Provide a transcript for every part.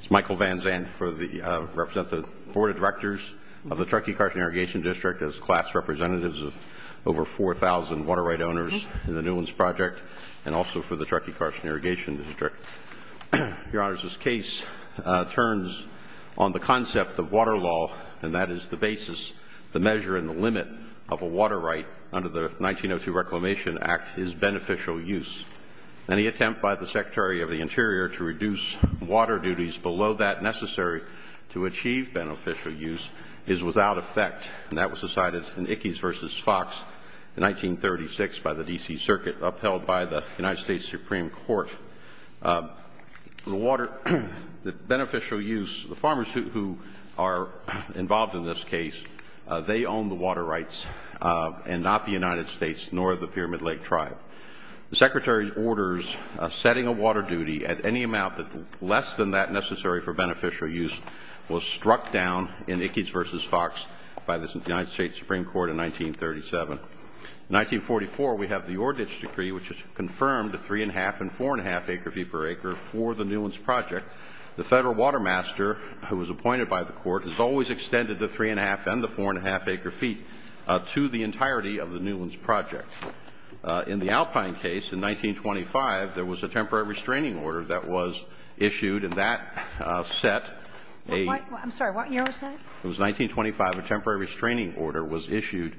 It's Michael Van Zandt for the Board of Directors of the Truckee Carson Irrigation District as class representatives of over 4,000 water right owners in the Newlands Project and also for the Truckee Carson Irrigation District. Your Honors, this case turns on the concept of water law and that is the basis, the measure and the limit of a water right under the 1902 Reclamation Act is beneficial use. Any attempt by the Secretary of the Interior to reduce water duties below that necessary to achieve beneficial use is without effect and that was decided in Ickes v. Fox in 1936 by the D.C. Circuit upheld by the United States Supreme Court. The water, the beneficial use, the farmers who are involved in this case, they own the water rights and not the United States nor the Pyramid Lake Tribe. The Secretary's orders setting a water duty at any amount less than that necessary for beneficial use was struck down in Ickes v. Fox by the United States Supreme Court in 1937. In 1944, we have the Ordich Decree which has confirmed the 3 1⁄2 and 4 1⁄2 acre feet per acre for the Newlands Project. The federal water master who was appointed by the court has always extended the 3 1⁄2 and the 4 1⁄2 acre feet to the entirety of the Newlands Project. In the Alpine case, in 1925, there was a temporary restraining order that was issued and that set a — I'm sorry. What year was that? It was 1925. A temporary restraining order was issued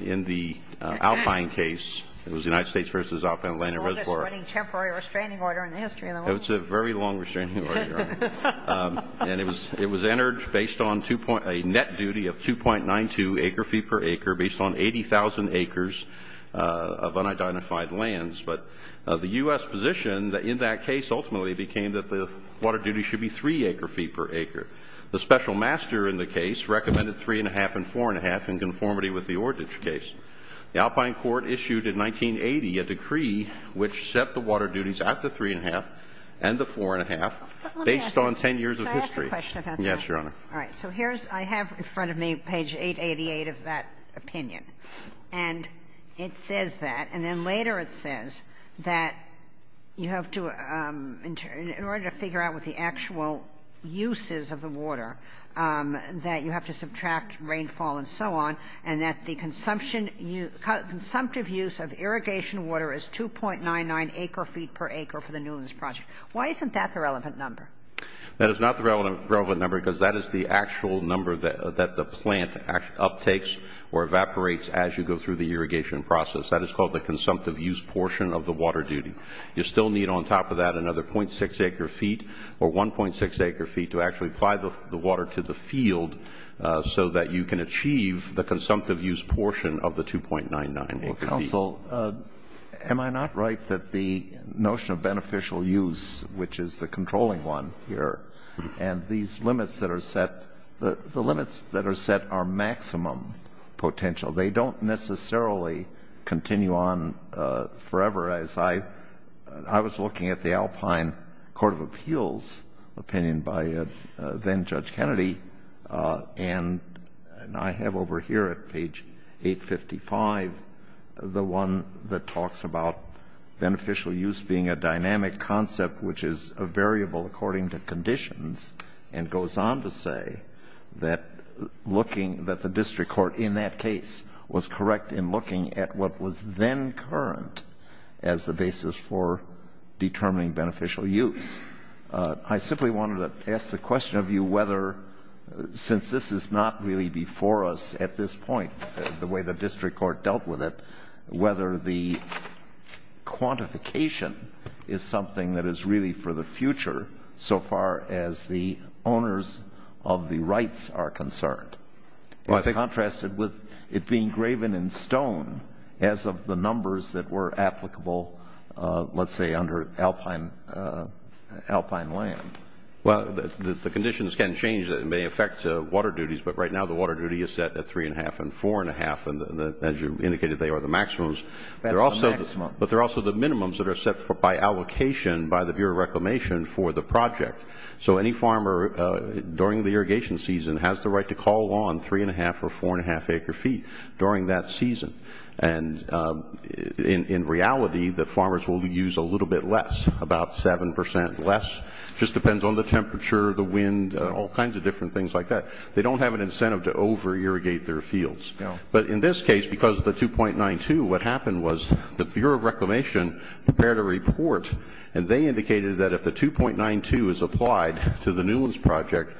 in the Alpine case. It was the United States v. Alpine Land and Reservoir. The longest running temporary restraining order in the history of the — It's a very long restraining order, Your Honor. And it was entered based on a net duty of 2.92 acre feet per acre based on 80,000 acres of unidentified lands. But the U.S. position in that case ultimately became that the water duty should be 3 acre feet per acre. The special master in the case recommended 3 1⁄2 and 4 1⁄2 in conformity with the Ordich case. The Alpine court issued in 1980 a decree which set the water duties at the 3 1⁄2 and the 4 1⁄2 based on 10 years of history. But let me ask you. Can I ask a question about that? Yes, Your Honor. All right. So here's — I have in front of me page 888 of that opinion. And it says that. And then later it says that you have to — in order to figure out what the actual use is of the water, that you have to subtract rainfall and so on, and that the consumption — consumptive use of irrigation water is 2.99 acre feet per acre for the Newlands Project. Why isn't that the relevant number? That is not the relevant number because that is the actual number that the plant uptakes or evaporates as you go through the irrigation process. That is called the consumptive use portion of the water duty. You still need on top of that another 0.6 acre feet or 1.6 acre feet to actually apply the water to the field so that you can achieve the consumptive use portion of the 2.99 acre feet. Counsel, am I not right that the notion of beneficial use, which is the controlling one here, and these limits that are set — the limits that are set are maximum potential? They don't necessarily continue on forever, as I — I was looking at the Alpine Court of Appeals opinion by then-Judge Kennedy, and I have over here at page 855 the one that talks about beneficial use being a dynamic concept which is a variable according to conditions, and goes on to say that looking — that the district court in that case was correct in looking at what was then current as the basis for determining beneficial use. I simply wanted to ask the question of you whether, since this is not really before us at this point, the way the district court dealt with it, whether the quantification is something that is really for the future so far as the owners of the rights are concerned. It's contrasted with it being graven in stone as of the numbers that were applicable, let's say, under Alpine land. Well, the conditions can change. It may affect water duties, but right now the water duty is set at 3.5 and 4.5, and as you indicated, they are the maximums. That's the maximum. But they're also the minimums that are set by allocation by the Bureau of Reclamation for the project. So any farmer during the irrigation season has the right to call on 3.5 or 4.5 acre feet during that season, and in reality, the farmers will use a little bit less, about 7% less. Just depends on the temperature, the wind, all kinds of different things like that. They don't have an incentive to over-irrigate their fields. But in this case, because of the 2.92, what happened was the Bureau of Reclamation prepared a report, and they indicated that if the 2.92 is applied to the Newlands Project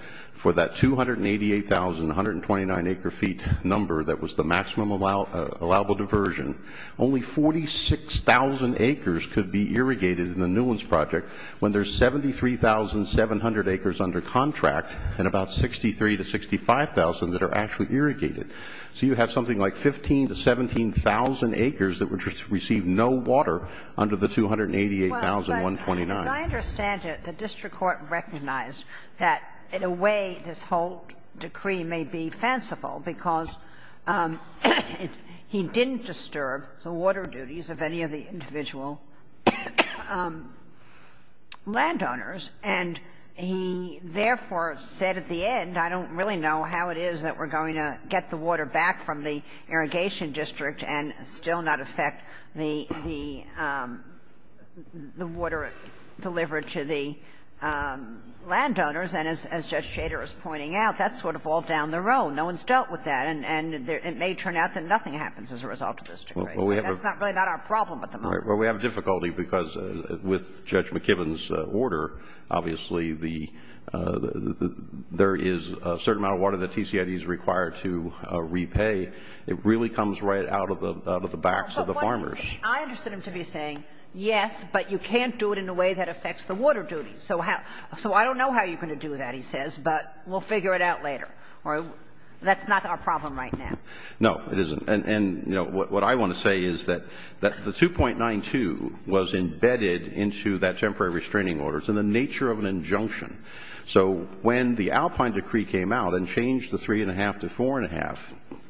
for that 288,129 acre feet number that was the maximum allowable diversion, only 46,000 acres could be irrigated in the Newlands Project when there's 73,700 acres under contract and about 63,000 to 65,000 that are actually irrigated. So you have something like 15,000 to 17,000 acres that receive no water under the 288,129. But as I understand it, the district court recognized that in a way this whole decree may be fanciful because he didn't disturb the water duties of any of the individual landowners, and he therefore said at the end, I don't really know how it is that we're going to get the water back from the Irrigation District and still not affect the water delivered to the landowners. And as Judge Shader is pointing out, that's sort of all down the road. No one's dealt with that, and it may turn out that nothing happens as a result of this decree. That's really not our problem at the moment. Well, we have a difficulty because with Judge McKibben's order, obviously, there is a certain amount of water that TCID is required to repay. It really comes right out of the backs of the farmers. I understood him to be saying, yes, but you can't do it in a way that affects the water duties. So I don't know how you're going to do that, he says, but we'll figure it out later. That's not our problem right now. No, it isn't. And, you know, what I want to say is that the 2.92 was embedded into that temporary restraining order. It's in the nature of an injunction. So when the Alpine decree came out and changed the 3.5 to 4.5,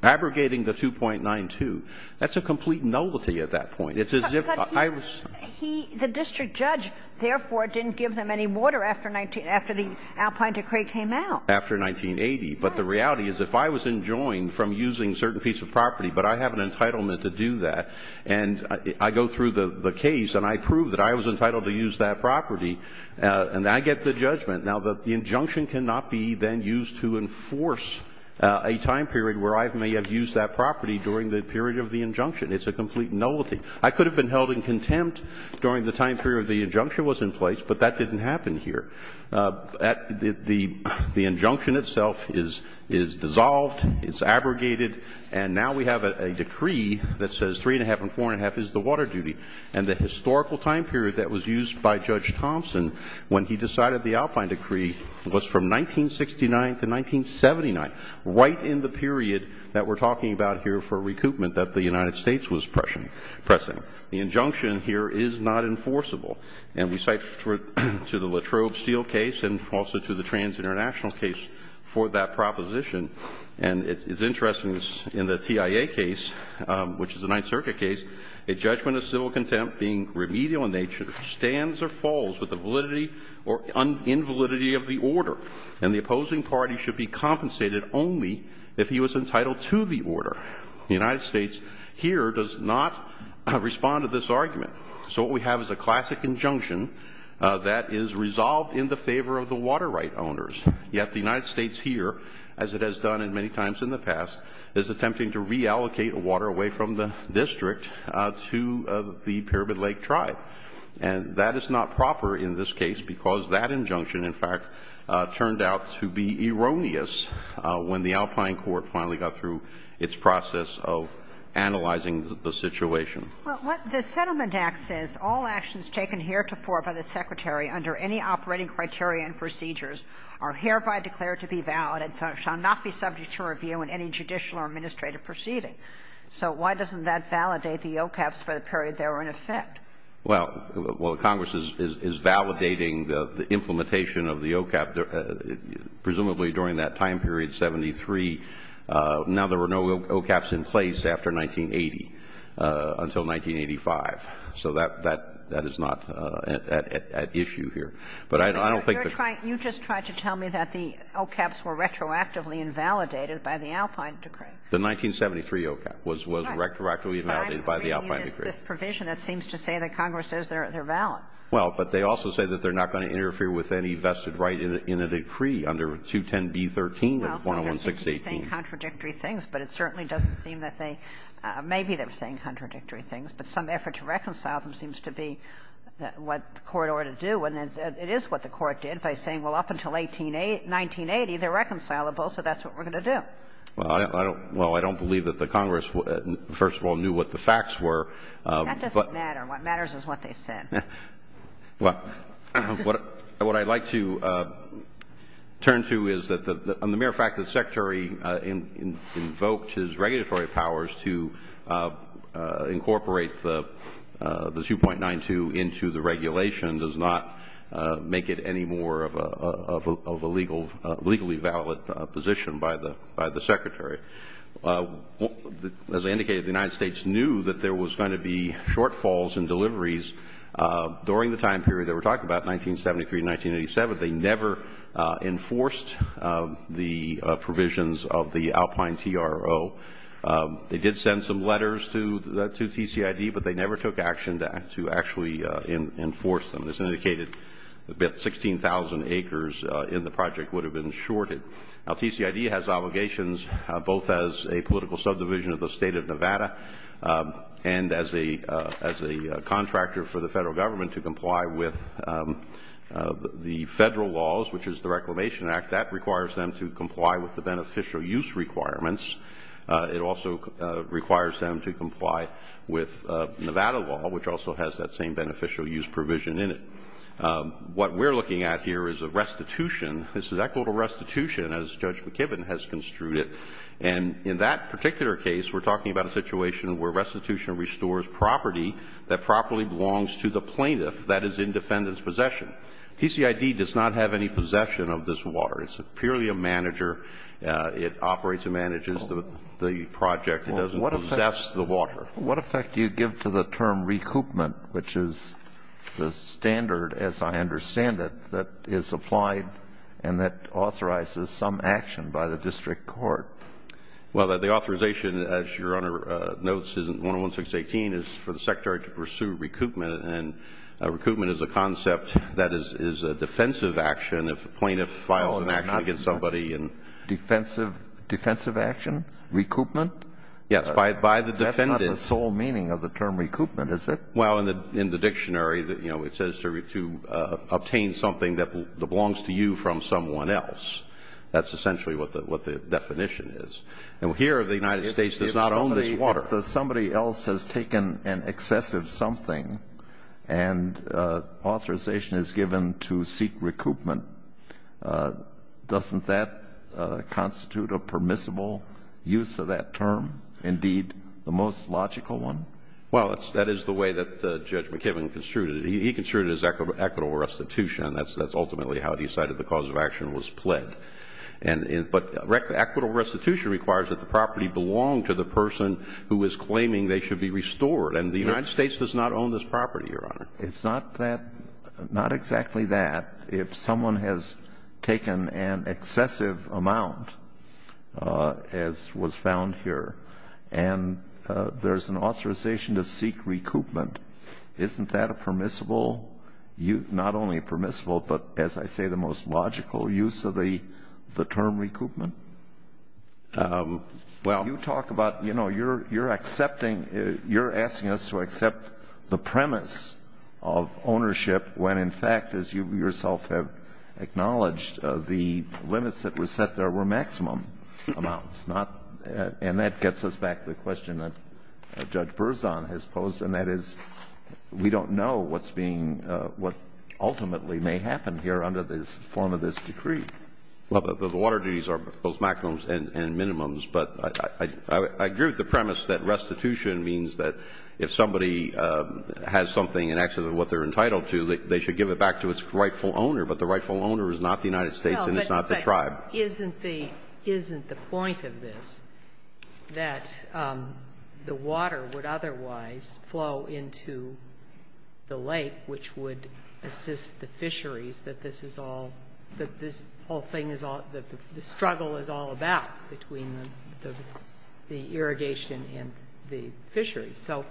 abrogating the 2.92, that's a complete nullity at that point. It's as if I was — But he — he, the district judge, therefore, didn't give them any water after the Alpine decree came out. After 1980. Right. But the reality is if I was enjoined from using a certain piece of property, but I have an entitlement to do that, and I go through the case and I prove that I was entitled to Now, the injunction cannot be then used to enforce a time period where I may have used that property during the period of the injunction. It's a complete nullity. I could have been held in contempt during the time period the injunction was in place, but that didn't happen here. The injunction itself is dissolved, it's abrogated, and now we have a decree that says 3.5 and 4.5 is the water duty. And the historical time period that was used by Judge Thompson when he decided the Alpine decree was from 1969 to 1979, right in the period that we're talking about here for recoupment that the United States was pressing. The injunction here is not enforceable, and we cite to the Latrobe Steel case and also to the Trans-International case for that proposition. And it's interesting in the TIA case, which is a Ninth Circuit case, a judgment of civil contempt being remedial in nature, stands or falls with the validity or invalidity of the order, and the opposing party should be compensated only if he was entitled to the order. The United States here does not respond to this argument. So what we have is a classic injunction that is resolved in the favor of the water right owners. Yet the United States here, as it has done many times in the past, is attempting to reallocate the water away from the district to the Pyramid Lake tribe. And that is not proper in this case because that injunction, in fact, turned out to be erroneous when the Alpine court finally got through its process of analyzing the situation. Well, what the Settlement Act says, all actions taken heretofore by the Secretary under any operating criteria and procedures are hereby declared to be valid and shall not be subject to review in any judicial or administrative proceeding. So why doesn't that validate the OCAPs for the period they were in effect? Well, Congress is validating the implementation of the OCAP, presumably during that time period, 1973. Now there were no OCAPs in place after 1980, until 1985. So that is not at issue here. But I don't think the ---- You're trying to tell me that the OCAPs were retroactively invalidated by the Alpine decree. The 1973 OCAP was retroactively invalidated by the Alpine decree. But I'm agreeing with this provision that seems to say that Congress says they're valid. Well, but they also say that they're not going to interfere with any vested right in a decree under 210B13 or 101618. Well, so they're saying contradictory things, but it certainly doesn't seem that they ---- maybe they're saying contradictory things, but some effort to reconcile them seems to be what the Court ought to do. And it is what the Court did by saying, well, up until 1980, they're reconcilable, so that's what we're going to do. Well, I don't believe that the Congress, first of all, knew what the facts were. That doesn't matter. What matters is what they said. Well, what I'd like to turn to is that the mere fact that the Secretary invoked his regulatory powers to incorporate the 2.92 into the regulation does not make it any more of a legally valid position by the Secretary. As I indicated, the United States knew that there was going to be shortfalls in deliveries during the time period that we're talking about, 1973 to 1987. They never enforced the provisions of the Alpine TRO. They did send some letters to TCID, but they never took action to actually enforce them. As indicated, 16,000 acres in the project would have been shorted. Now, TCID has obligations both as a political subdivision of the State of Nevada and as a contractor for the federal government to comply with the federal laws, which is the Reclamation Act. That requires them to comply with the beneficial use requirements. It also requires them to comply with Nevada law, which also has that same beneficial use provision in it. What we're looking at here is a restitution. This is equitable restitution, as Judge McKibbin has construed it. And in that particular case, we're talking about a situation where restitution restores property that properly belongs to the plaintiff that is in defendant's possession. TCID does not have any possession of this water. It's purely a manager. It operates and manages the project. It doesn't possess the water. What effect do you give to the term recoupment, which is the standard, as I understand it, that is applied and that authorizes some action by the district court? Well, the authorization, as Your Honor notes, is in 11618, is for the Secretary to pursue recoupment. And recoupment is a concept that is a defensive action if a plaintiff files an action against somebody. Defensive action? Recoupment? Yes. By the defendant. That's not the sole meaning of the term recoupment, is it? Well, in the dictionary, you know, it says to obtain something that belongs to you from someone else. That's essentially what the definition is. And here, the United States does not own this water. If somebody else has taken an excessive something and authorization is given to seek recoupment, doesn't that constitute a permissible use of that term? Indeed, the most logical one? Well, that is the way that Judge McKibben construed it. He construed it as equitable restitution. And that's ultimately how he cited the cause of action was pled. But equitable restitution requires that the property belong to the person who is claiming they should be restored. And the United States does not own this property, Your Honor. It's not that, not exactly that. If someone has taken an excessive amount, as was found here, and there's an authorization to seek recoupment, isn't that a permissible, not only permissible, but as I say, the most logical use of the term recoupment? Well, you talk about, you know, you're accepting, you're asking us to accept the premise of ownership when, in fact, as you yourself have acknowledged, the limits that were set there were maximum amounts, not, and that gets us back to the question that Judge Berzon has posed, and that is, we don't know what's being, what ultimately may happen here under the form of this decree. Well, the water duties are both maximums and minimums. But I agree with the premise that restitution means that if somebody has something and acts as what they're entitled to, they should give it back to its rightful owner, but the rightful owner is not the United States and it's not the tribe. Well, but isn't the point of this that the water would otherwise flow into the lake, which would assist the fisheries, that this is all, that this whole thing is all, the struggle is all about between the irrigation and the fisheries. So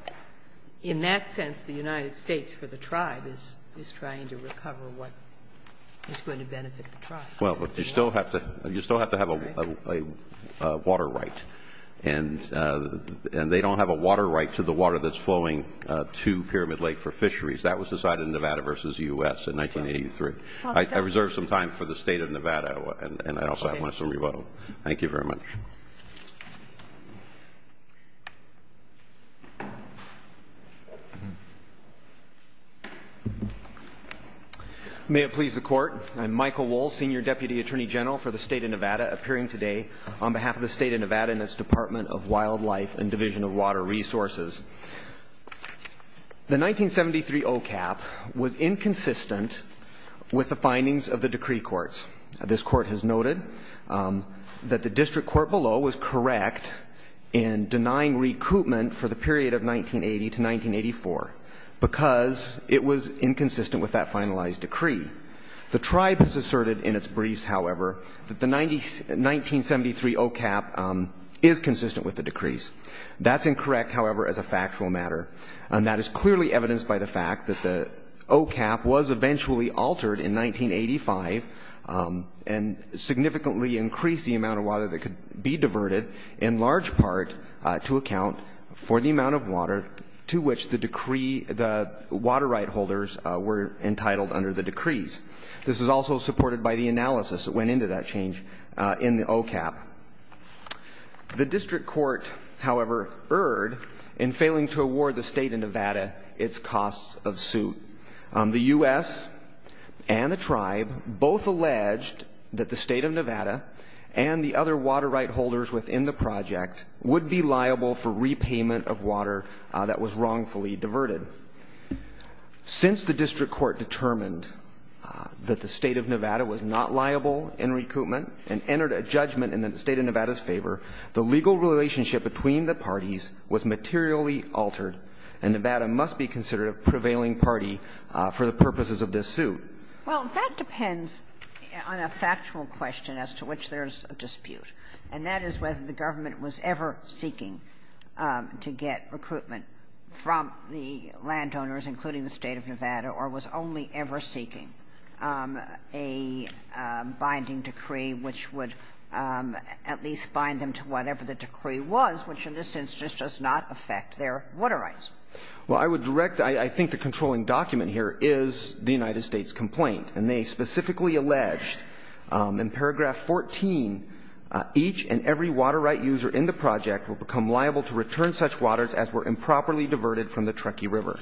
in that sense, the United States for the tribe is trying to recover what is going to benefit the tribe. Well, but you still have to, you still have to have a water right, and they don't have a water right to the water that's flowing to Pyramid Lake for fisheries. That was decided in Nevada versus U.S. in 1983. I reserve some time for the state of Nevada, and I also have some rebuttal. Thank you very much. May it please the Court. I'm Michael Wohl, Senior Deputy Attorney General for the state of Nevada, appearing today on behalf of the state of Nevada and its Department of Wildlife and Division of Water Resources. The 1973 OCAP was inconsistent with the findings of the decree courts. This court has noted that the district court below was correct in denying recoupment for the period of 1980 to 1984 because it was inconsistent with that finalized decree. The tribe has asserted in its briefs, however, that the 1973 OCAP is consistent with the decrees. That's incorrect, however, as a factual matter, and that is clearly evidenced by the fact that the OCAP was eventually altered in 1985 and significantly increased the amount of water that could be diverted in large part to account for the amount of water to which the decree, the water right holders were entitled under the decrees. This is also supported by the analysis that went into that change in the OCAP. The district court, however, erred in failing to award the state of Nevada its costs of suit. The U.S. and the tribe both alleged that the state of Nevada and the other water right holders within the project would be liable for repayment of water that was wrongfully diverted. Since the district court determined that the state of Nevada was not liable in recoupment and entered a judgment in the state of Nevada's favor, the legal relationship between the parties was materially altered, and Nevada must be considered a prevailing party for the purposes of this suit. Well, that depends on a factual question as to which there's a dispute, and that is whether the government was ever seeking to get recruitment from the landowners, including the state of Nevada, or was only ever seeking a binding decree which would at least bind them to whatever the decree was, which in a sense just does not affect their water rights. Well, I would direct the ‑‑ I think the controlling document here is the United States complaint, and they specifically alleged in paragraph 14, each and every water right user in the project will become liable to return such waters as were improperly used to supply the river,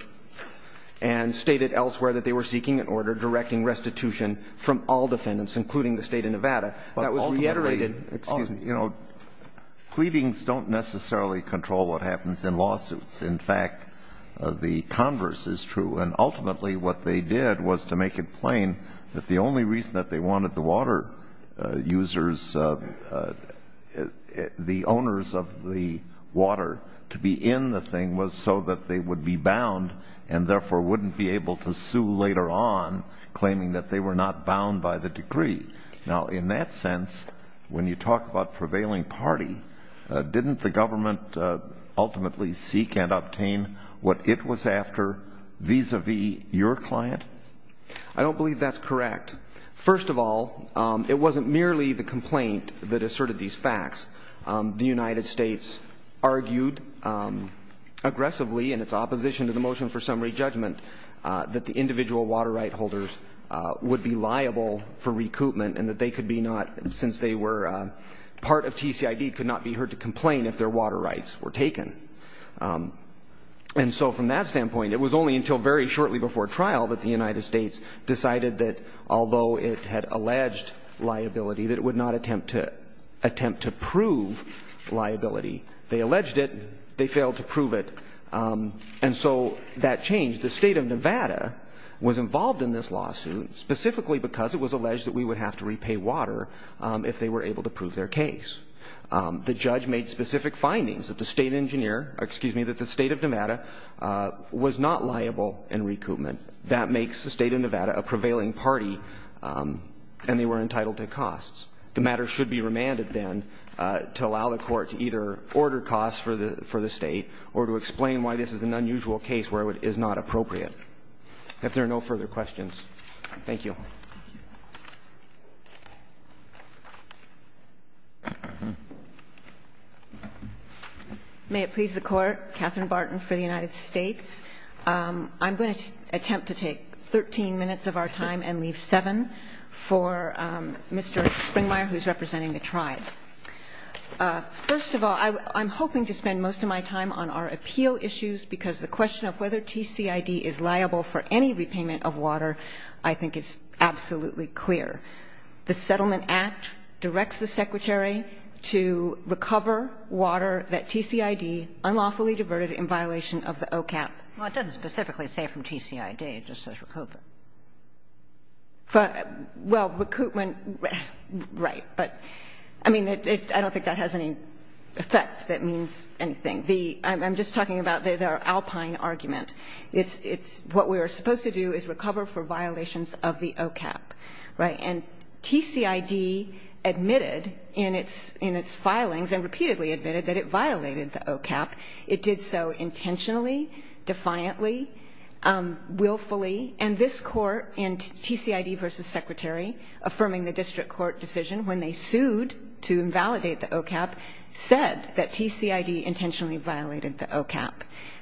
and stated elsewhere that they were seeking an order directing restitution from all defendants, including the state of Nevada. That was reiterated. But ultimately, you know, pleadings don't necessarily control what happens in lawsuits. In fact, the converse is true, and ultimately what they did was to make it plain that the only reason that they wanted the water users, the owners of the water, to be in the thing was so that they would be bound, and therefore wouldn't be able to sue later on, claiming that they were not bound by the decree. Now, in that sense, when you talk about prevailing party, didn't the government ultimately seek and obtain what it was after vis‑a‑vis your client? I don't believe that's correct. First of all, it wasn't merely the complaint that asserted these facts. The United States argued aggressively, in its opposition to the motion for summary judgment, that the individual water right holders would be liable for recoupment, and that they could be not, since they were part of TCID, could not be heard to complain if their water rights were taken. And so from that standpoint, it was only until very shortly before trial that the United liability. They alleged it, they failed to prove it, and so that changed. The state of Nevada was involved in this lawsuit specifically because it was alleged that we would have to repay water if they were able to prove their case. The judge made specific findings that the state of Nevada was not liable in recoupment. That makes the state of Nevada a prevailing party, and they were entitled to costs. The matter should be remanded, then, to allow the court to either order costs for the state or to explain why this is an unusual case where it is not appropriate. If there are no further questions, thank you. May it please the Court, Katherine Barton for the United States. I'm going to attempt to take 13 minutes of our time and leave seven for Mr. Springmeier, who's representing the tribe. First of all, I'm hoping to spend most of my time on our appeal issues because the question of whether TCID is liable for any repayment of water, I think, is absolutely clear. The Settlement Act directs the Secretary to recover water that TCID unlawfully diverted in violation of the OCAP. Well, it doesn't specifically say from TCID, it just says recoupment. Well, recoupment, right, but I mean, I don't think that has any effect that means anything. I'm just talking about the alpine argument. It's what we are supposed to do is recover for violations of the OCAP, right? And TCID admitted in its filings and repeatedly admitted that it violated the OCAP. It did so intentionally, defiantly, willfully, and this Court in TCID v. Secretary, affirming the District Court decision when they sued to invalidate the OCAP, said that TCID intentionally violated the OCAP.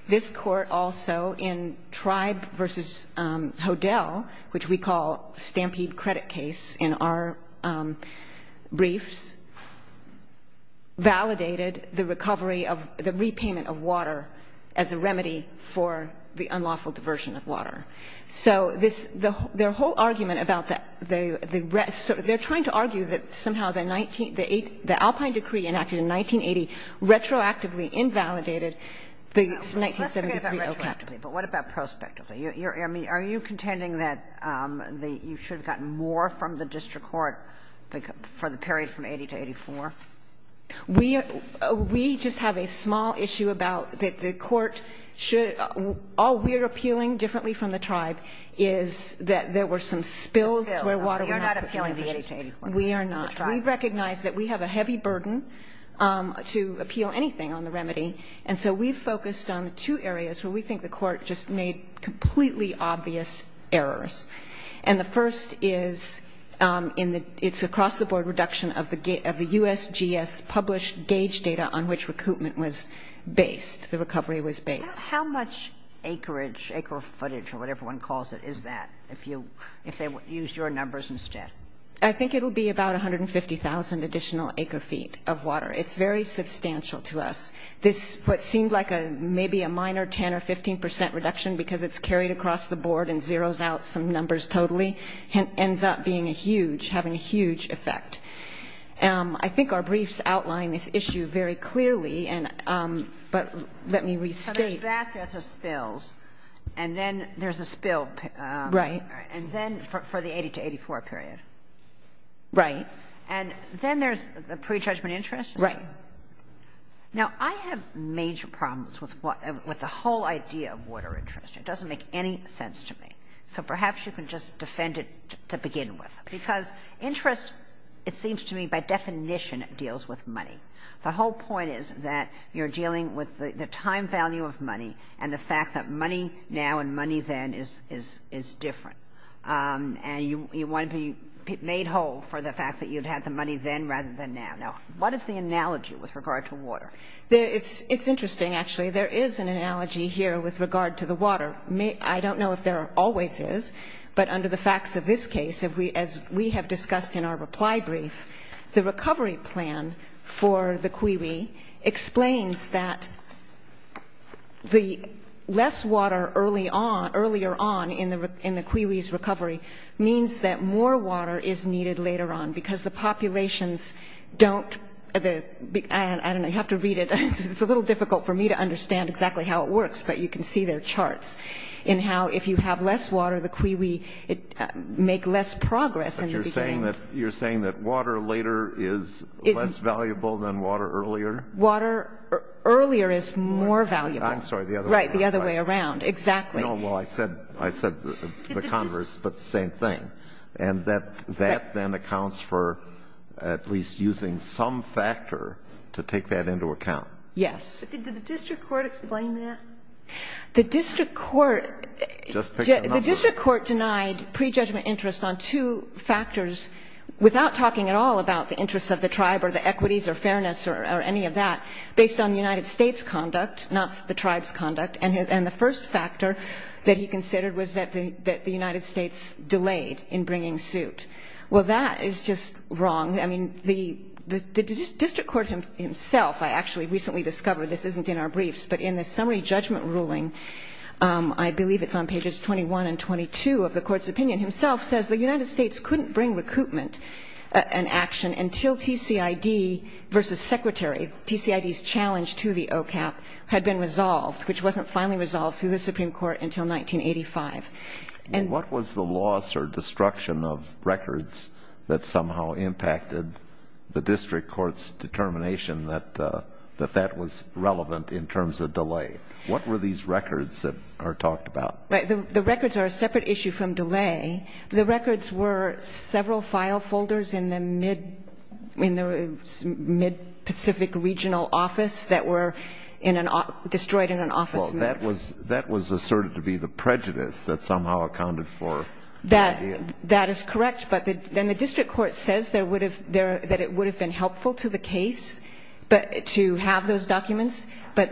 This Court also in Tribe v. Hodel, which we call Stampede Credit Case in our briefs, validated the recovery of the repayment of water as a remedy for the unlawful diversion of water. So this, their whole argument about the rest, they're trying to argue that somehow the 19, the alpine decree enacted in 1980 retroactively invalidated the 1973 OCAP. But what about prospectively? Are you contending that you should have gotten more from the District Court for the period from 80 to 84? We, we just have a small issue about that the Court should, all we're appealing differently from the Tribe is that there were some spills where water went up. You're not appealing the 80 to 84. We are not. We recognize that we have a heavy burden to appeal anything on the remedy. And so we've focused on the two areas where we think the Court just made completely obvious errors. And the first is in the, it's across the board reduction of the USGS published gauge data on which recoupment was based, the recovery was based. How much acreage, acre footage, or whatever one calls it, is that if you, if they used your numbers instead? I think it'll be about 150,000 additional acre feet of water. It's very substantial to us. This, what seemed like a, maybe a minor 10 or 15 percent reduction because it's totally, ends up being a huge, having a huge effect. I think our briefs outline this issue very clearly and, but let me restate. So there's that, there's the spills, and then there's a spill. Right. And then for the 80 to 84 period. Right. And then there's the pre-judgment interest? Right. Now, I have major problems with what, with the whole idea of water interest. It doesn't make any sense to me. So perhaps you can just defend it to begin with. Because interest, it seems to me, by definition, deals with money. The whole point is that you're dealing with the time value of money and the fact that money now and money then is, is, is different. And you, you want to be made whole for the fact that you'd had the money then rather than now. Now, what is the analogy with regard to water? There, it's, it's interesting actually. There is an analogy here with regard to the water. I don't know if there always is, but under the facts of this case, if we, as we have discussed in our reply brief, the recovery plan for the Cuiwi explains that the less water early on, earlier on in the, in the Cuiwi's recovery means that more water is needed later on because the populations don't, the, I don't know, you have to read it. It's a little difficult for me to understand exactly how it works, but you can see their charts in how if you have less water, the Cuiwi, it make less progress in the beginning. But you're saying that, you're saying that water later is less valuable than water earlier? Water earlier is more valuable. I'm sorry, the other way around. Right, the other way around. Exactly. No, well, I said, I said the converse, but the same thing. And that, that then accounts for at least using some factor to take that into account. Yes. Did the district court explain that? The district court, the district court denied pre-judgment interest on two factors without talking at all about the interests of the tribe or the equities or fairness or any of that based on the United States conduct, not the tribe's conduct. And the first factor that he considered was that the United States delayed in bringing suit. Well, that is just wrong. I mean, the district court himself, I actually recently discovered this isn't in our briefs, but in the summary judgment ruling, I believe it's on pages 21 and 22 of the court's opinion, himself says the United States couldn't bring recoupment and action until TCID versus secretary, TCID's challenge to the OCAP had been resolved, which wasn't finally resolved through the Supreme Court until 1985. And what was the loss or destruction of records that somehow impacted the district court's relevance in terms of delay? What were these records that are talked about? Right. The records are a separate issue from delay. The records were several file folders in the mid-Pacific regional office that were destroyed in an office. Well, that was asserted to be the prejudice that somehow accounted for the idea. That is correct. But then the district court says that it would have been helpful to the case to have those documents, but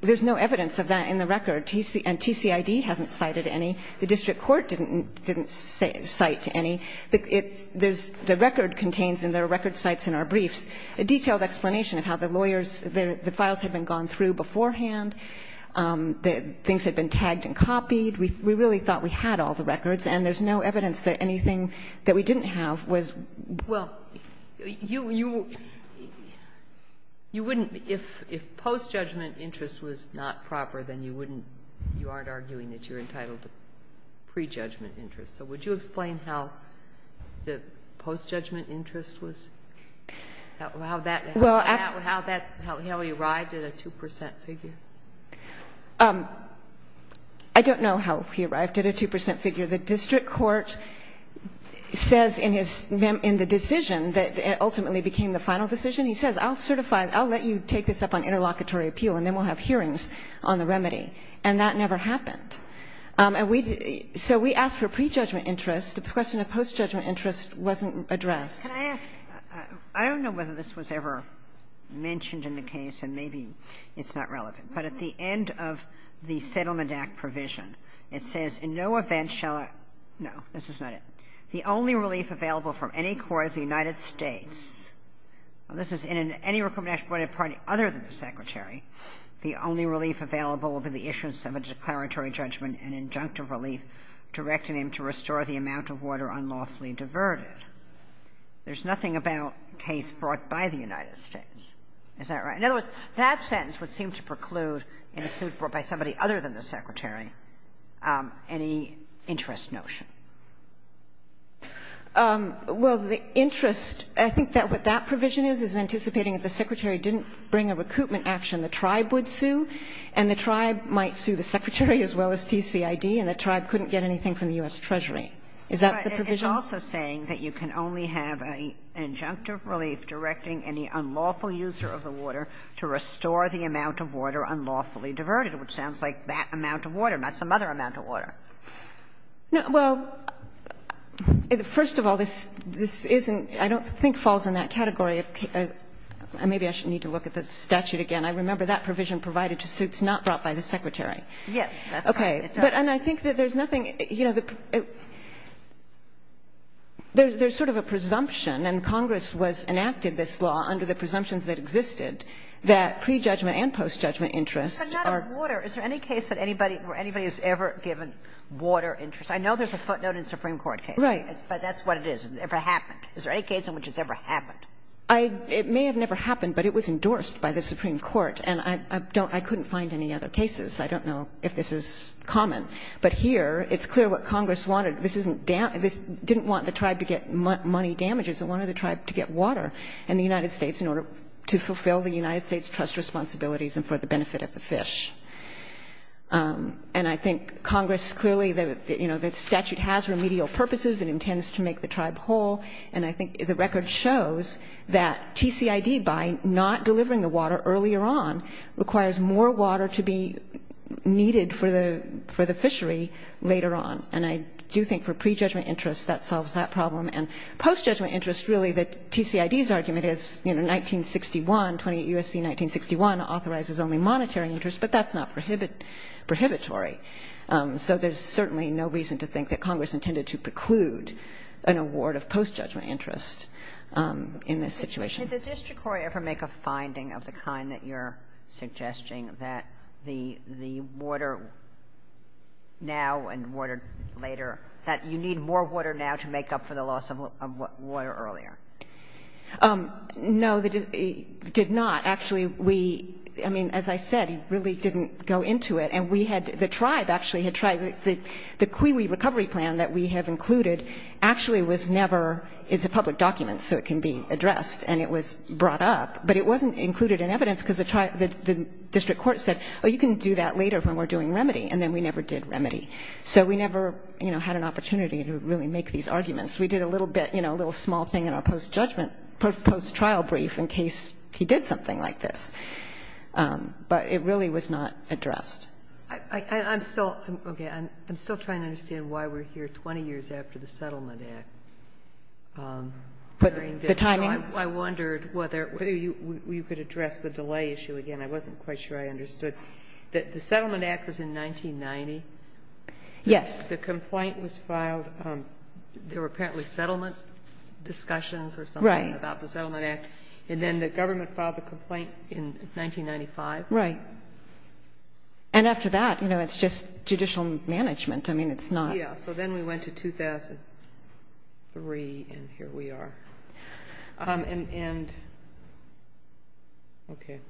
there's no evidence of that in the record. And TCID hasn't cited any. The district court didn't cite any. The record contains in their record sites in our briefs a detailed explanation of how the lawyers, the files had been gone through beforehand, things had been tagged and copied. We really thought we had all the records, and there's no evidence that anything that we didn't have was ---- You wouldn't, if post-judgment interest was not proper, then you wouldn't, you aren't arguing that you're entitled to pre-judgment interest. So would you explain how the post-judgment interest was, how that, how he arrived at a 2 percent figure? I don't know how he arrived at a 2 percent figure. The district court says in his, in the decision that ultimately became the final decision, he says, I'll certify, I'll let you take this up on interlocutory appeal, and then we'll have hearings on the remedy. And that never happened. And we, so we asked for pre-judgment interest. The question of post-judgment interest wasn't addressed. Can I ask, I don't know whether this was ever mentioned in the case, and maybe it's not relevant, but at the end of the Settlement Act provision, it says, In no event shall I ---- no, this is not it. The only relief available from any court of the United States, and this is in any recrimination-related party other than the Secretary, the only relief available will be the issuance of a declaratory judgment, an injunctive relief, directing him to restore the amount of water unlawfully diverted. There's nothing about a case brought by the United States. Is that right? In other words, that sentence would seem to preclude a suit brought by somebody other than the Secretary, any interest notion. Well, the interest, I think that what that provision is, is anticipating if the Secretary didn't bring a recoupment action, the tribe would sue, and the tribe might sue the Secretary as well as TCID, and the tribe couldn't get anything from the U.S. Treasury. Is that the provision? It's also saying that you can only have an injunctive relief directing any unlawful user of the water to restore the amount of water unlawfully diverted, which sounds like that amount of water, not some other amount of water. Well, first of all, this isn't – I don't think falls in that category. Maybe I should need to look at the statute again. I remember that provision provided to suits not brought by the Secretary. Yes. Okay. And I think that there's nothing – you know, there's sort of a presumption, and Congress was – enacted this law under the presumptions that existed, that pre-judgment and post-judgment interest are – But not of water. Is there any case that anybody – where anybody has ever given water interest? I know there's a footnote in a Supreme Court case. Right. But that's what it is. It never happened. Is there any case in which it's ever happened? I – it may have never happened, but it was endorsed by the Supreme Court, and I don't – I couldn't find any other cases. I don't know if this is common. But here, it's clear what Congress wanted. This isn't – this didn't want the tribe to get money damages. It wanted the tribe to get water in the United States in order to fulfill the And I think Congress clearly – you know, the statute has remedial purposes. It intends to make the tribe whole. And I think the record shows that TCID, by not delivering the water earlier on, requires more water to be needed for the – for the fishery later on. And I do think for pre-judgment interest, that solves that problem. And post-judgment interest, really, the TCID's argument is, you know, 1961 – 28 U.S.C. 1961 authorizes only monetary interest, but that's not prohibit – prohibitory. So there's certainly no reason to think that Congress intended to preclude an award of post-judgment interest in this situation. Did the district court ever make a finding of the kind that you're suggesting that the water now and water later – that you need more water now to make up for the loss of water earlier? No, the – it did not. Actually, we – I mean, as I said, it really didn't go into it. And we had – the tribe actually had tried – the CUIWI recovery plan that we have included actually was never – it's a public document, so it can be addressed. And it was brought up. But it wasn't included in evidence because the district court said, oh, you can do that later when we're doing remedy. And then we never did remedy. So we never, you know, had an opportunity to really make these arguments. We did a little bit, you know, a little small thing in our post-judgment – post-trial brief in case he did something like this. But it really was not addressed. I'm still – okay. I'm still trying to understand why we're here 20 years after the Settlement Act. But the timing – I wondered whether you could address the delay issue again. I wasn't quite sure I understood. The Settlement Act was in 1990. Yes. The complaint was filed. There were apparently settlement discussions or something about the Settlement Act. Right. And then the government filed the complaint in 1995. Right. And after that, you know, it's just judicial management. I mean, it's not – Yeah. So then we went to 2003, and here we are. And – okay.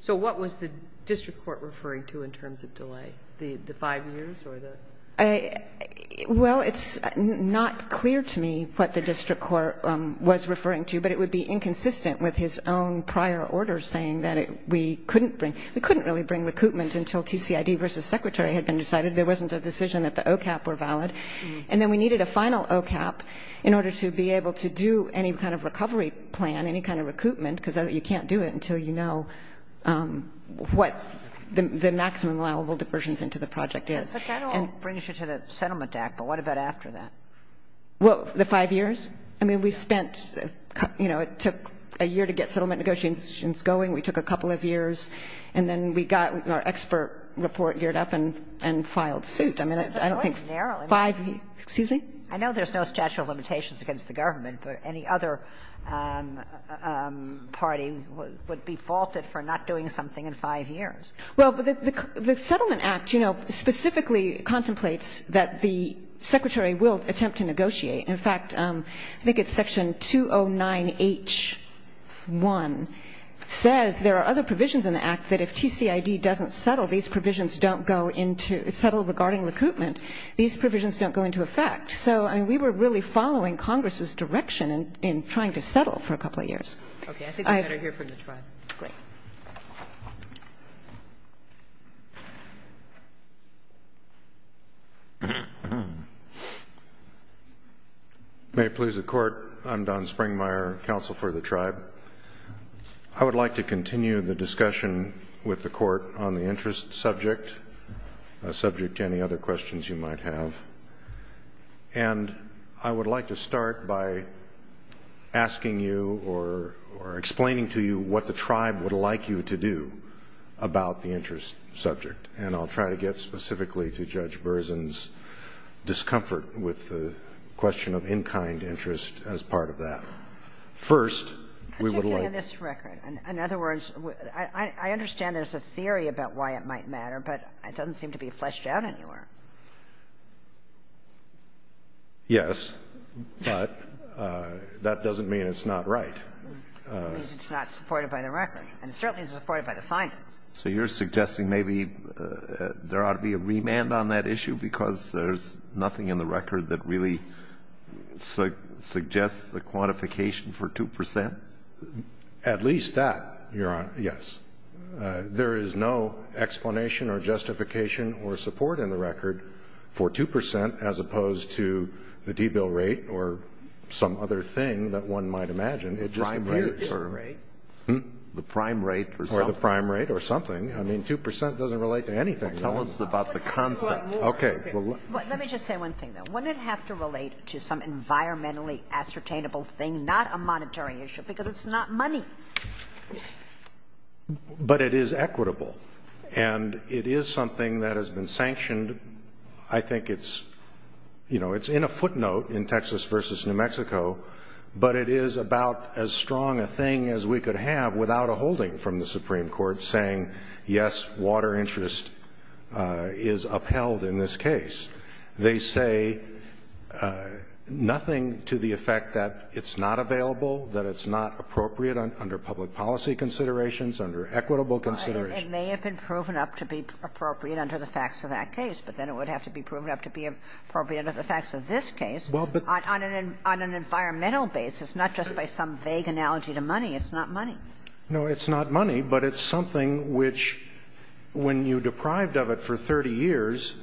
So what was the district court referring to in terms of delay, the five years or the – Well, it's not clear to me what the district court was referring to. But it would be inconsistent with his own prior order saying that we couldn't bring – we couldn't really bring recoupment until TCID versus Secretary had been decided. There wasn't a decision that the OCAP were valid. And then we needed a final OCAP in order to be able to do any kind of recovery plan, any kind of recoupment, because you can't do it until you know what the maximum allowable diversions into the project is. But that all brings you to the Settlement Act. But what about after that? Well, the five years? I mean, we spent – you know, it took a year to get settlement negotiations going. We took a couple of years. And then we got our expert report geared up and filed suit. I mean, I don't think five – But it was narrow. Excuse me? I know there's no statute of limitations against the government. But any other party would be faulted for not doing something in five years. Well, the Settlement Act, you know, specifically contemplates that the Secretary will attempt to negotiate. In fact, I think it's Section 209H1 says there are other provisions in the Act that if TCID doesn't settle these provisions don't go into – settle regarding recoupment, these provisions don't go into effect. So, I mean, we were really following Congress's direction in trying to settle for a couple of years. Okay. I think we better hear from the Tribe. Great. Thank you. May it please the Court. I'm Don Springmeier, Counsel for the Tribe. I would like to continue the discussion with the Court on the interest subject, subject to any other questions you might have. And I would like to start by asking you or explaining to you what the Tribe would like you to do about the interest subject. And I'll try to get specifically to Judge Berzin's discomfort with the question of in-kind interest as part of that. First, we would like to – Particularly on this record. In other words, I understand there's a theory about why it might matter, but it doesn't seem to be fleshed out anywhere. Yes, but that doesn't mean it's not right. It means it's not supported by the record. And it certainly isn't supported by the findings. So you're suggesting maybe there ought to be a remand on that issue because there's nothing in the record that really suggests the quantification for 2 percent? At least that, Your Honor, yes. There is no explanation or justification or support in the record for 2 percent as opposed to the debill rate or some other thing that one might imagine. It just appears. The prime rate or something. Or the prime rate or something. I mean, 2 percent doesn't relate to anything. Well, tell us about the concept. Okay. Let me just say one thing, though. Wouldn't it have to relate to some environmentally ascertainable thing, not a monetary issue, because it's not money? But it is equitable. And it is something that has been sanctioned. I think it's, you know, it's in a footnote in Texas versus New Mexico, but it is about as strong a thing as we could have without a holding from the Supreme Court saying, yes, water interest is upheld in this case. They say nothing to the effect that it's not available, that it's not appropriate under public policy considerations, under equitable considerations. It may have been proven up to be appropriate under the facts of that case, but then it would have to be proven up to be appropriate under the facts of this case on an environmental basis, not just by some vague analogy to money. It's not money. No, it's not money, but it's something which, when you're deprived of it for 30 years,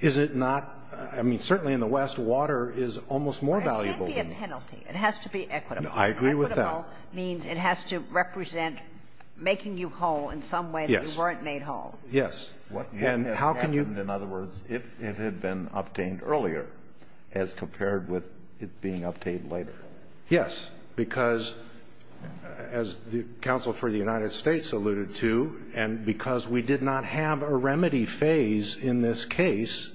is it not – I mean, certainly in the West, water is almost more valuable. It can't be a penalty. It has to be equitable. I agree with that. Equitable means it has to represent making you whole in some way that you weren't made whole. Yes. Yes. And how can you – What would have happened, in other words, if it had been obtained earlier as compared with it being obtained later? Yes. Because, as the counsel for the United States alluded to, and because we did not have a remedy phase in this case,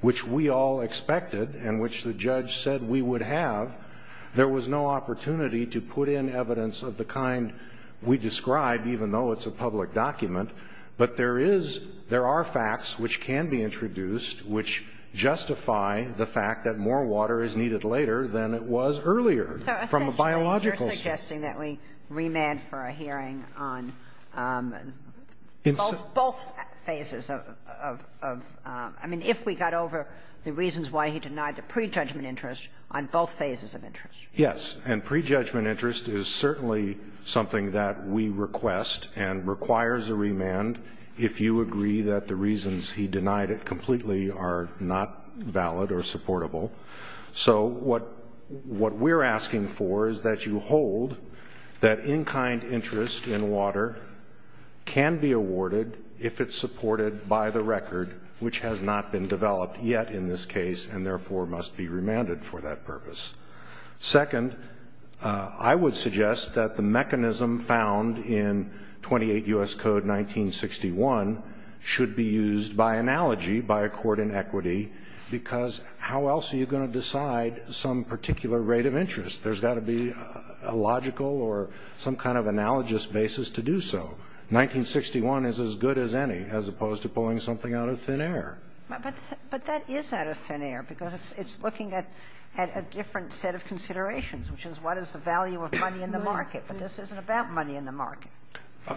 which we all expected and which the judge said we would have, there was no opportunity to put in evidence of the kind we describe, even though it's a public document. But there is – there are facts which can be introduced which justify the fact that more water is needed later than it was earlier from a biological standpoint. So essentially you're suggesting that we remand for a hearing on both phases of – I mean, if we got over the reasons why he denied the prejudgment interest on both phases of interest. Yes. And prejudgment interest is certainly something that we request and requires a remand if you agree that the reasons he denied it completely are not valid or supportable. So what we're asking for is that you hold that in-kind interest in water can be awarded if it's supported by the record, which has not been developed yet in this case and therefore must be remanded for that purpose. Second, I would suggest that the mechanism found in 28 U.S. Code 1961 should be used by analogy, by accord in equity, because how else are you going to decide some particular rate of interest? There's got to be a logical or some kind of analogous basis to do so. 1961 is as good as any as opposed to pulling something out of thin air. But that is out of thin air because it's looking at a different set of considerations, which is what is the value of money in the market. But this isn't about money in the market.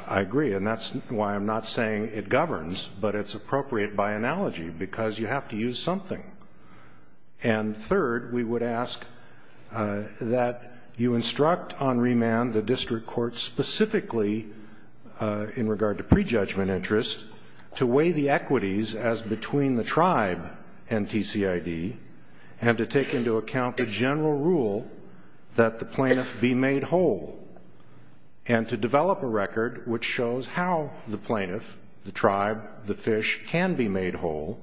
I agree. And that's why I'm not saying it governs, but it's appropriate by analogy because you have to use something. And third, we would ask that you instruct on remand the district court specifically in regard to prejudgment interest to weigh the equities as between the tribe and TCID and to take into account the general rule that the plaintiff be made whole and to develop a record which shows how the plaintiff, the tribe, the fish, can be made whole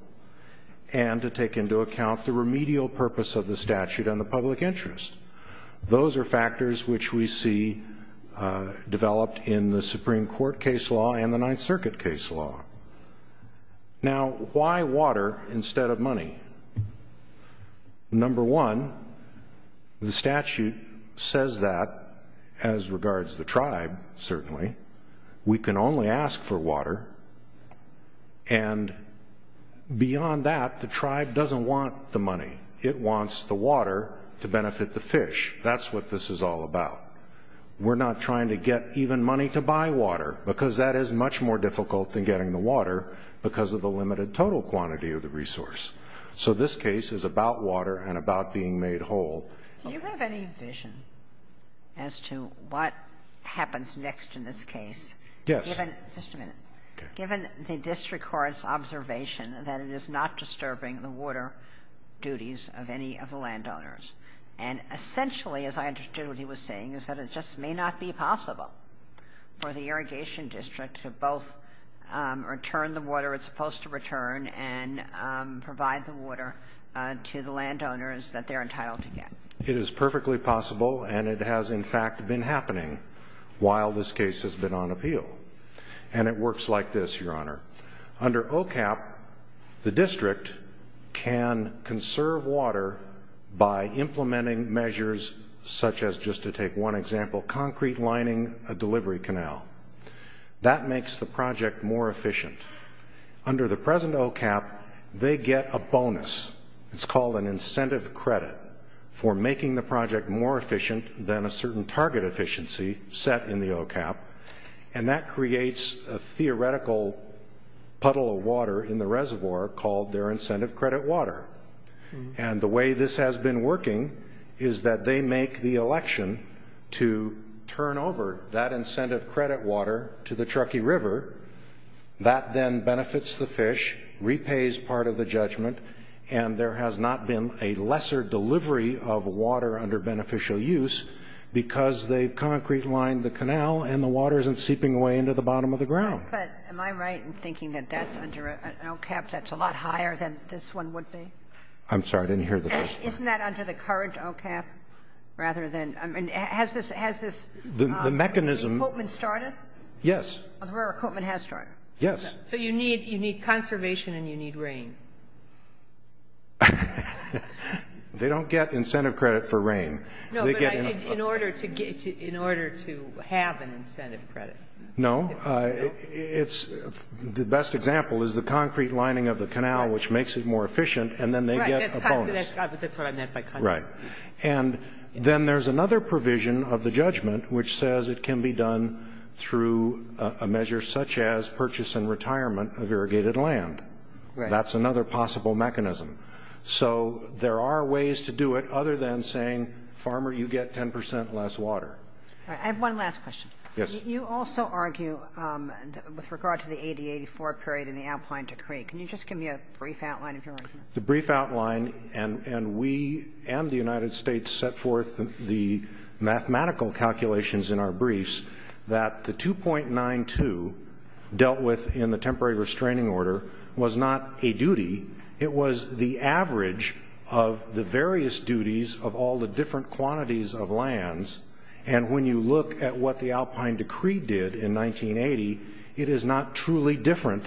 and to take into account the remedial purpose of the statute and the public interest. Those are factors which we see developed in the Supreme Court case law and the Ninth Circuit case law. Now, why water instead of money? Number one, the statute says that as regards the tribe, certainly. We can only ask for water. We can't ask for money. It wants the water to benefit the fish. That's what this is all about. We're not trying to get even money to buy water because that is much more difficult than getting the water because of the limited total quantity of the resource. So this case is about water and about being made whole. Do you have any vision as to what happens next in this case? Yes. Just a minute. Given the district court's observation that it is not disturbing the water duties of any of the landowners, and essentially, as I understood what he was saying, is that it just may not be possible for the Irrigation District to both return the water it's supposed to return and provide the water to the landowners that they're entitled to get. It is perfectly possible, and it has in fact been happening while this case has been on appeal. And it works like this, Your Honor. Under OCAP, the district can conserve water by implementing measures such as, just to take one example, concrete lining a delivery canal. That makes the project more efficient. Under the present OCAP, they get a bonus. It's called an incentive credit for making the project more efficient than a certain target efficiency set in the OCAP. And that creates a theoretical puddle of water in the reservoir called their incentive credit water. And the way this has been working is that they make the election to turn over that incentive credit water to the Truckee River. That then benefits the fish, repays part of the judgment, and there has not been a lesser delivery of water under beneficial use because they've concrete lined the canal and the water isn't seeping away into the bottom of the ground. But am I right in thinking that that's under an OCAP that's a lot higher than this one would be? I'm sorry. I didn't hear the first part. Isn't that under the current OCAP rather than, I mean, has this equipment started? Yes. The equipment has started. So you need conservation and you need rain. They don't get incentive credit for rain. No, but I think in order to have an incentive credit. No. The best example is the concrete lining of the canal which makes it more efficient and then they get a bonus. Right. That's what I meant by concrete. Right. And then there's another provision of the judgment which says it can be done through a measure such as purchase and retirement of irrigated land. Right. That's another possible mechanism. So there are ways to do it other than saying, farmer, you get 10% less water. All right. I have one last question. Yes. You also argue with regard to the 80-84 period in the outline decree. Can you just give me a brief outline of your argument? The brief outline and we and the United States set forth the mathematical calculations in our briefs that the 2.92 dealt with in the temporary restraining order was not a duty. It was the average of the various duties of all the different quantities of lands and when you look at what the outline decree did in 1980, it is not truly different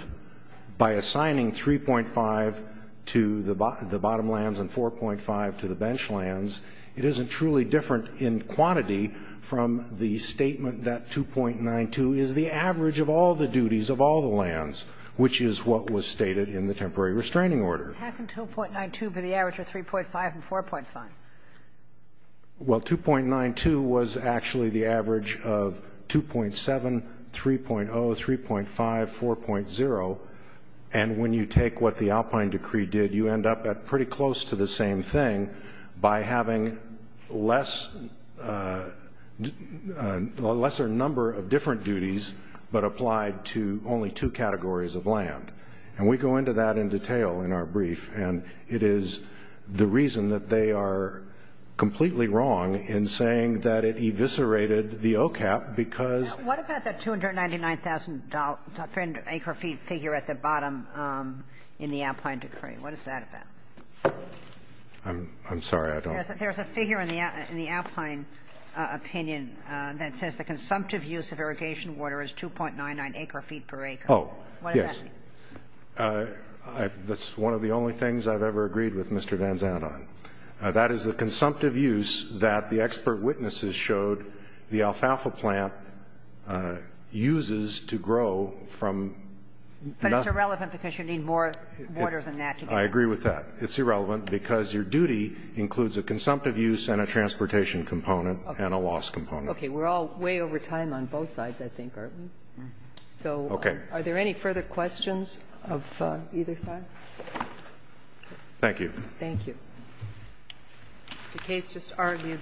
by assigning 3.5 to the bottom lands and 4.5 to the bench lands. It isn't truly different in quantity from the statement that 2.92 is the average of all the duties of all the lands, which is what was stated in the temporary restraining order. How can 2.92 be the average of 3.5 and 4.5? Well, 2.92 was actually the average of 2.7, 3.0, 3.5, 4.0, and when you take what the outline decree did, you end up at pretty close to the same thing by having a lesser number of different duties, but applied to only two categories of land. And we go into that in detail in our brief, and it is the reason that they are completely wrong in saying that it eviscerated the OCAP because of the 2.92. What about that $299,000 per acre figure at the bottom in the outline decree? What is that about? I'm sorry, I don't. There's a figure in the outline opinion that says the consumptive use of irrigation water is 2.99 acre feet per acre. Oh, yes. What does that mean? That's one of the only things I've ever agreed with Mr. Van Zandt on. That is the consumptive use that the expert witnesses showed the alfalfa plant uses to grow from nothing. But it's irrelevant because you need more water than that. I agree with that. It's irrelevant because your duty includes a consumptive use and a transportation component and a loss component. Okay. We're all way over time on both sides, I think, aren't we? Okay. So are there any further questions of either side? Thank you. Thank you. The case just argued,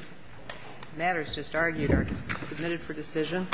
matters just argued are submitted for decision.